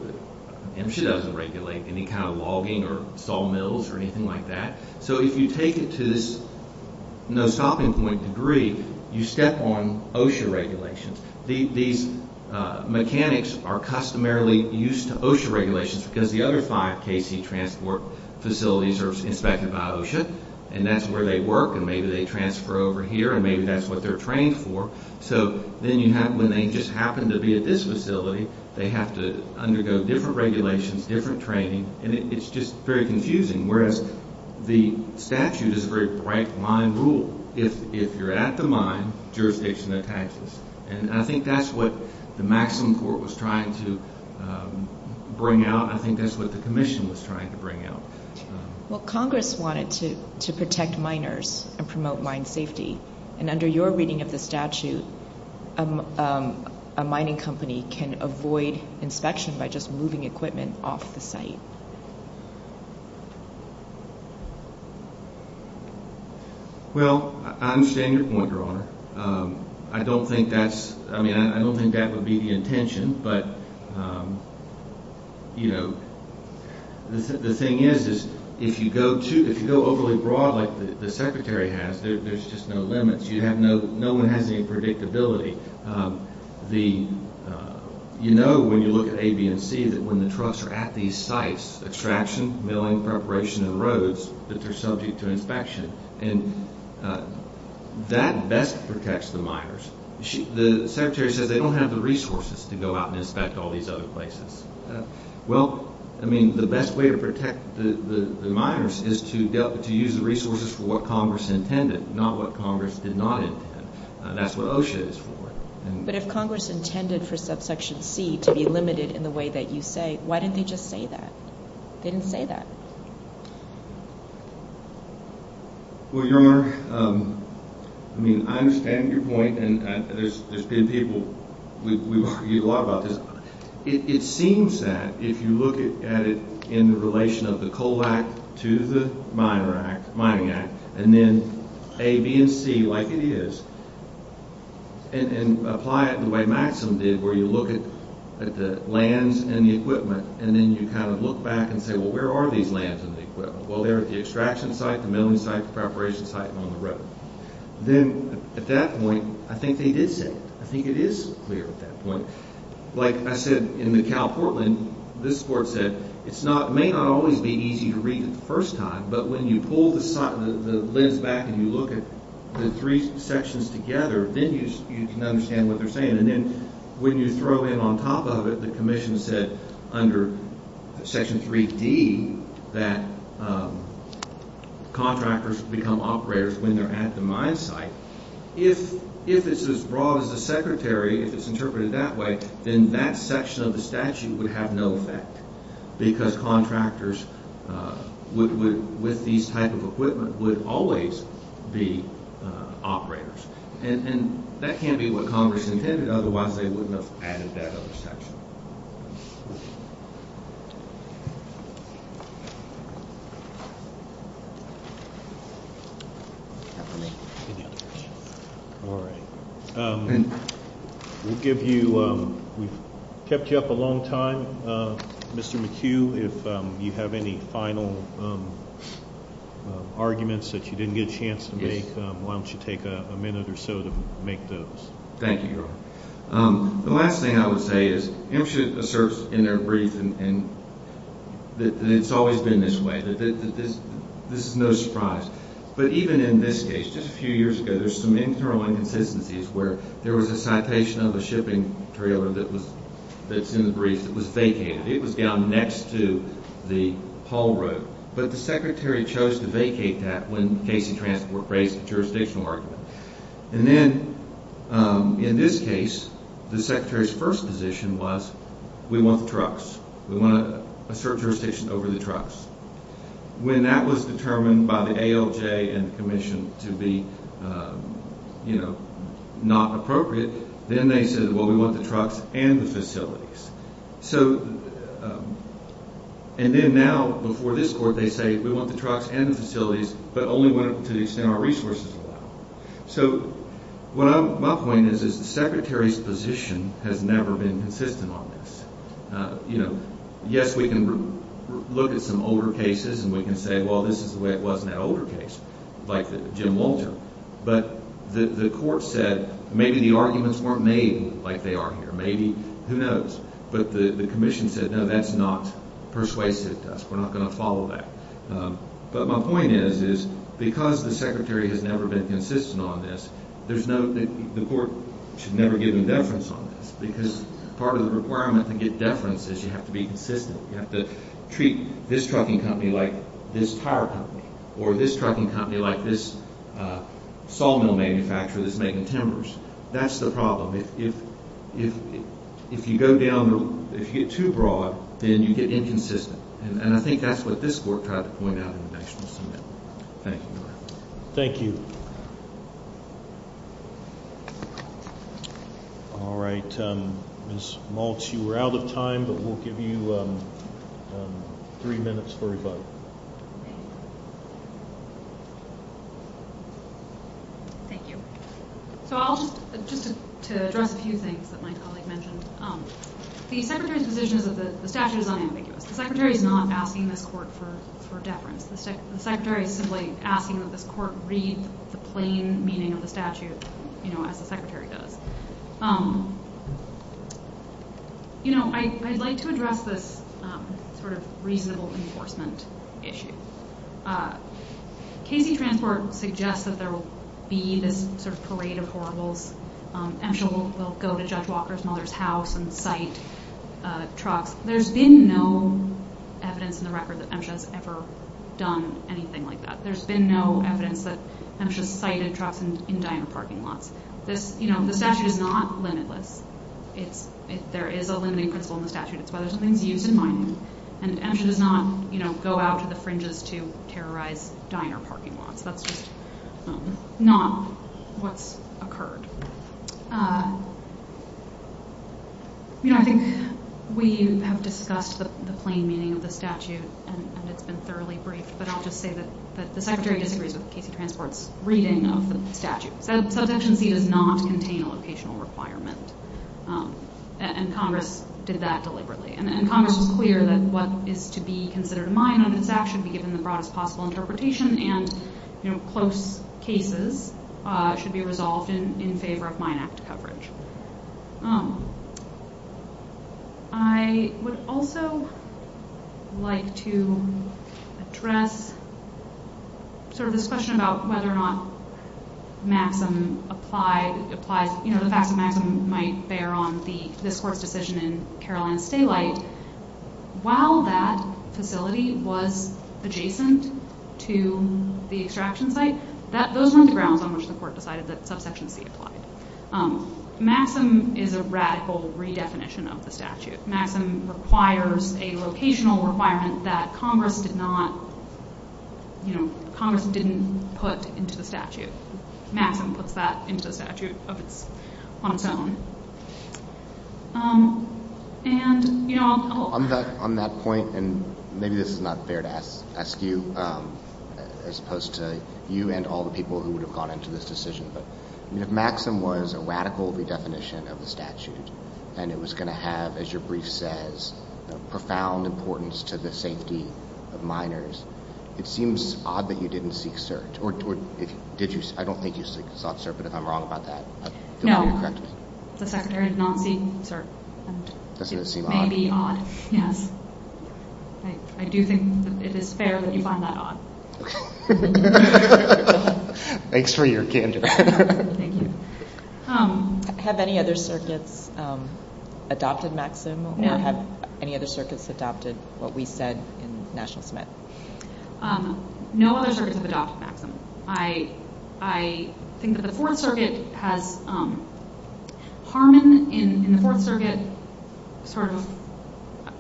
MSHA doesn't regulate any kind of logging or sawmills or anything like that. So if you take it to this no-stopping point degree, you step on OSHA regulations. These mechanics are customarily used to OSHA regulations because the other five KC transport facilities are inspected by OSHA, and that's where they work and maybe they transfer over here and maybe that's what they're trained for. So then when they just happen to be at this facility, they have to undergo different regulations, different training, and it's just very confusing. Whereas the statute is a very bright line rule. If you're at the mine, jurisdiction attaches. And I think that's what the maximum court was trying to bring out. I think that's what the commission was trying to bring out. Well, Congress wanted to protect miners and promote mine safety, and under your reading of the statute, a mining company can avoid inspection by just moving equipment off the site. Well, I understand your point, Your Honor. I don't think that's – I mean, I don't think that would be the intention, but, you know, the thing is, is if you go overly broad like the secretary has, there's just no limits. No one has any predictability. You know when you look at A, B, and C that when the trucks are at these sites, extraction, milling, preparation, and roads, that they're subject to inspection. And that best protects the miners. The secretary says they don't have the resources to go out and inspect all these other places. Well, I mean, the best way to protect the miners is to use the resources for what Congress intended, not what Congress did not intend. That's what OSHA is for. But if Congress intended for subsection C to be limited in the way that you say, why didn't they just say that? They didn't say that. Well, Your Honor, I mean, I understand your point, and there's been people – we've argued a lot about this. It seems that if you look at it in relation of the Coal Act to the Mining Act, and then A, B, and C like it is, and apply it the way Maxim did where you look at the lands and the equipment, and then you kind of look back and say, well, where are these lands and the equipment? Well, they're at the extraction site, the milling site, the preparation site, and on the road. Then at that point, I think they did say it. I think it is clear at that point. Like I said, in the Cal Portland, this court said it may not always be easy to read the first time, but when you pull the lens back and you look at the three sections together, then you can understand what they're saying. And then when you throw in on top of it, the commission said under Section 3D that contractors become operators when they're at the mine site. If it's as broad as the Secretary, if it's interpreted that way, then that section of the statute would have no effect because contractors with these type of equipment would always be operators. And that can't be what Congress intended, otherwise they wouldn't have added that other section. All right. We'll give you, we've kept you up a long time. Mr. McHugh, if you have any final arguments that you didn't get a chance to make, why don't you take a minute or so to make those. Thank you, Your Honor. The last thing I would say is MSHA asserts in their brief that it's always been this way, that this is no surprise. But even in this case, just a few years ago, there's some internal inconsistencies where there was a citation of a shipping trailer that's in the brief that was vacated. It was down next to the haul road. But the Secretary chose to vacate that when Casey Transport raised a jurisdictional argument. And then, in this case, the Secretary's first position was, we want the trucks. We want a certain jurisdiction over the trucks. When that was determined by the ALJ and the Commission to be, you know, not appropriate, then they said, well, we want the trucks and the facilities. So, and then now, before this Court, they say, we want the trucks and the facilities, but only to the extent our resources allow. So, what I'm, my point is, is the Secretary's position has never been consistent on this. You know, yes, we can look at some older cases and we can say, well, this is the way it was in that older case, like the Jim Walter. But the Court said, maybe the arguments weren't made like they are here. Maybe, who knows. But the Commission said, no, that's not persuasive to us. We're not going to follow that. But my point is, is because the Secretary has never been consistent on this, there's no, the Court should never give him deference on this, because part of the requirement to get deference is you have to be consistent. You have to treat this trucking company like this tire company, or this trucking company like this sawmill manufacturer that's making timbers. That's the problem. If you go down, if you get too broad, then you get inconsistent. And I think that's what this Court tried to point out in the National Summit. Thank you. Thank you. All right. Ms. Maltz, you are out of time, but we'll give you three minutes for a vote. Thank you. So I'll just, to address a few things that my colleague mentioned. The Secretary's position is that the statute is unambiguous. The Secretary is not asking this Court for deference. The Secretary is simply asking that this Court read the plain meaning of the statute, you know, as the Secretary does. You know, I'd like to address this sort of reasonable enforcement issue. Casey Transport suggests that there will be this sort of parade of horribles, and she'll go to Judge Walker's mother's house and cite trucks. There's been no evidence in the record that MSHA's ever done anything like that. There's been no evidence that MSHA's cited trucks in diner parking lots. This, you know, the statute is not limitless. There is a limiting principle in the statute. It's whether something's used and mined. And MSHA does not, you know, go out to the fringes to terrorize diner parking lots. That's just not what's occurred. You know, I think we have discussed the plain meaning of the statute, and it's been thoroughly briefed, but I'll just say that the Secretary disagrees with Casey Transport's reading of the statute. Subsection C does not contain a locational requirement, and Congress did that deliberately. And Congress was clear that what is to be considered a mine under this Act should be given the broadest possible interpretation, and, you know, close cases should be resolved in favor of mine act coverage. I would also like to address sort of this question about whether or not Maxim applies, you know, the facts that Maxim might bear on this court's decision in Carolinas Daylight. While that facility was adjacent to the extraction site, those weren't the grounds on which the court decided that subsection C applied. Maxim is a radical redefinition of the statute. Maxim requires a locational requirement that Congress did not, you know, Congress didn't put into the statute. Maxim puts that into the statute on its own. On that point, and maybe this is not fair to ask you, as opposed to you and all the people who would have gone into this decision, but if Maxim was a radical redefinition of the statute, and it was going to have, as your brief says, profound importance to the safety of miners, it seems odd that you didn't seek cert, or did you? I don't think you sought cert, but if I'm wrong about that, do I need to correct me? No, the Secretary did not seek cert. Doesn't it seem odd? It may be odd, yes. I do think that it is fair that you find that odd. Okay. Thanks for your candor. Thank you. Have any other circuits adopted Maxim, or have any other circuits adopted what we said in National Cemetery? No other circuits have adopted Maxim. I think that the Fourth Circuit has Harmon in the Fourth Circuit.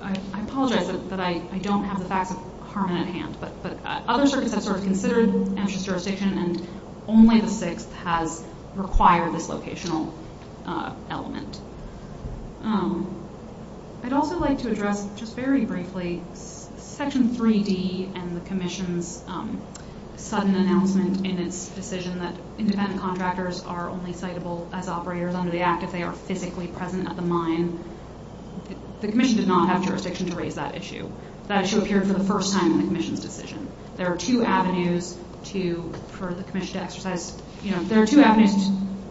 I apologize, but I don't have the facts of Harmon at hand. But other circuits have considered Amherst jurisdiction, and only the Sixth has required this locational element. I'd also like to address, just very briefly, Section 3D and the Commission's sudden announcement in its decision that independent contractors are only citable as operators under the Act if they are physically present at the mine. The Commission did not have jurisdiction to raise that issue. That issue appeared for the first time in the Commission's decision. There are two avenues for the Commission to exercise. There are two avenues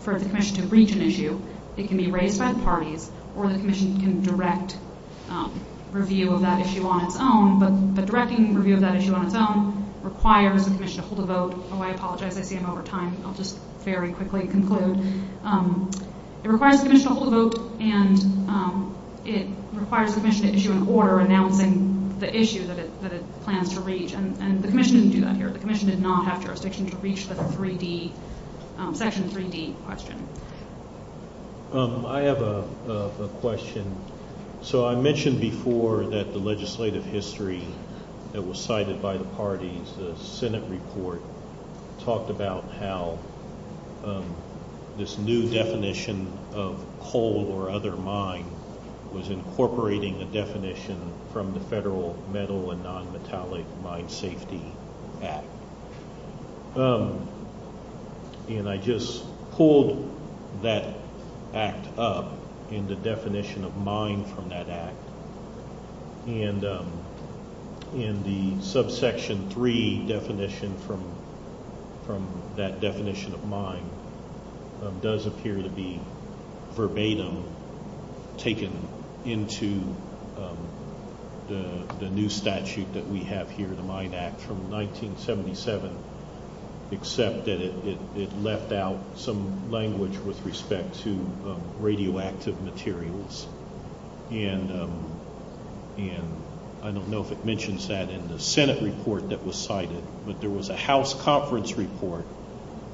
for the Commission to reach an issue. It can be raised by the parties, or the Commission can direct review of that issue on its own. But directing review of that issue on its own requires the Commission to hold a vote. Oh, I apologize. I see I'm over time. I'll just very quickly conclude. It requires the Commission to hold a vote, and it requires the Commission to issue an order announcing the issue that it plans to reach. And the Commission didn't do that here. The Commission did not have jurisdiction to reach the Section 3D question. I have a question. So I mentioned before that the legislative history that was cited by the parties, the Senate report talked about how this new definition of coal or other mine was incorporating a definition from the Federal Metal and Nonmetallic Mine Safety Act. And I just pulled that act up in the definition of mine from that act. And in the Subsection 3 definition from that definition of mine does appear to be verbatim taken into the new statute that we have here, the Mine Act from 1977, except that it left out some language with respect to radioactive materials. And I don't know if it mentions that in the Senate report that was cited, but there was a House conference report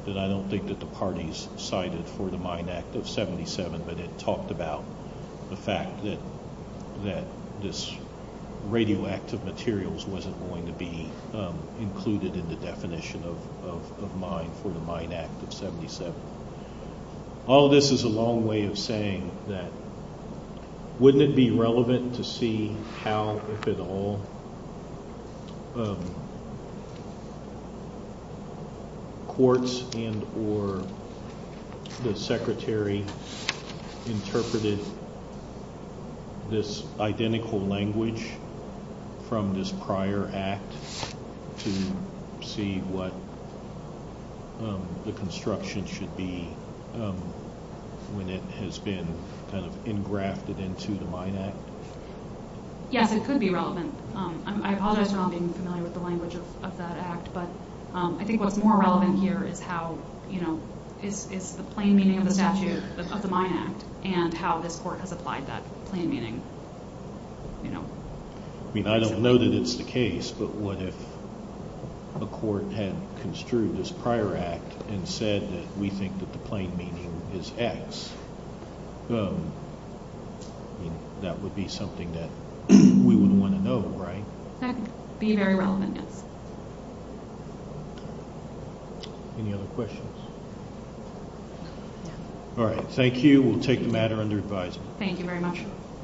that I don't think that the parties cited for the Mine Act of 77, but it talked about the fact that this radioactive materials wasn't going to be included in the definition of mine for the Mine Act of 77. All this is a long way of saying that wouldn't it be relevant to see how, if at all, courts and or the Secretary interpreted this identical language from this prior act to see what the construction should be when it has been kind of engrafted into the Mine Act? Yes, it could be relevant. I apologize for not being familiar with the language of that act, but I think what's more relevant here is how, you know, is the plain meaning of the statute of the Mine Act and how this court has applied that plain meaning, you know. I mean, I don't know that it's the case, but what if a court had construed this prior act and said that we think that the plain meaning is X? I mean, that would be something that we wouldn't want to know, right? That would be very relevant, yes. Any other questions? No. All right. Thank you. We'll take the matter under advisement. Thank you very much.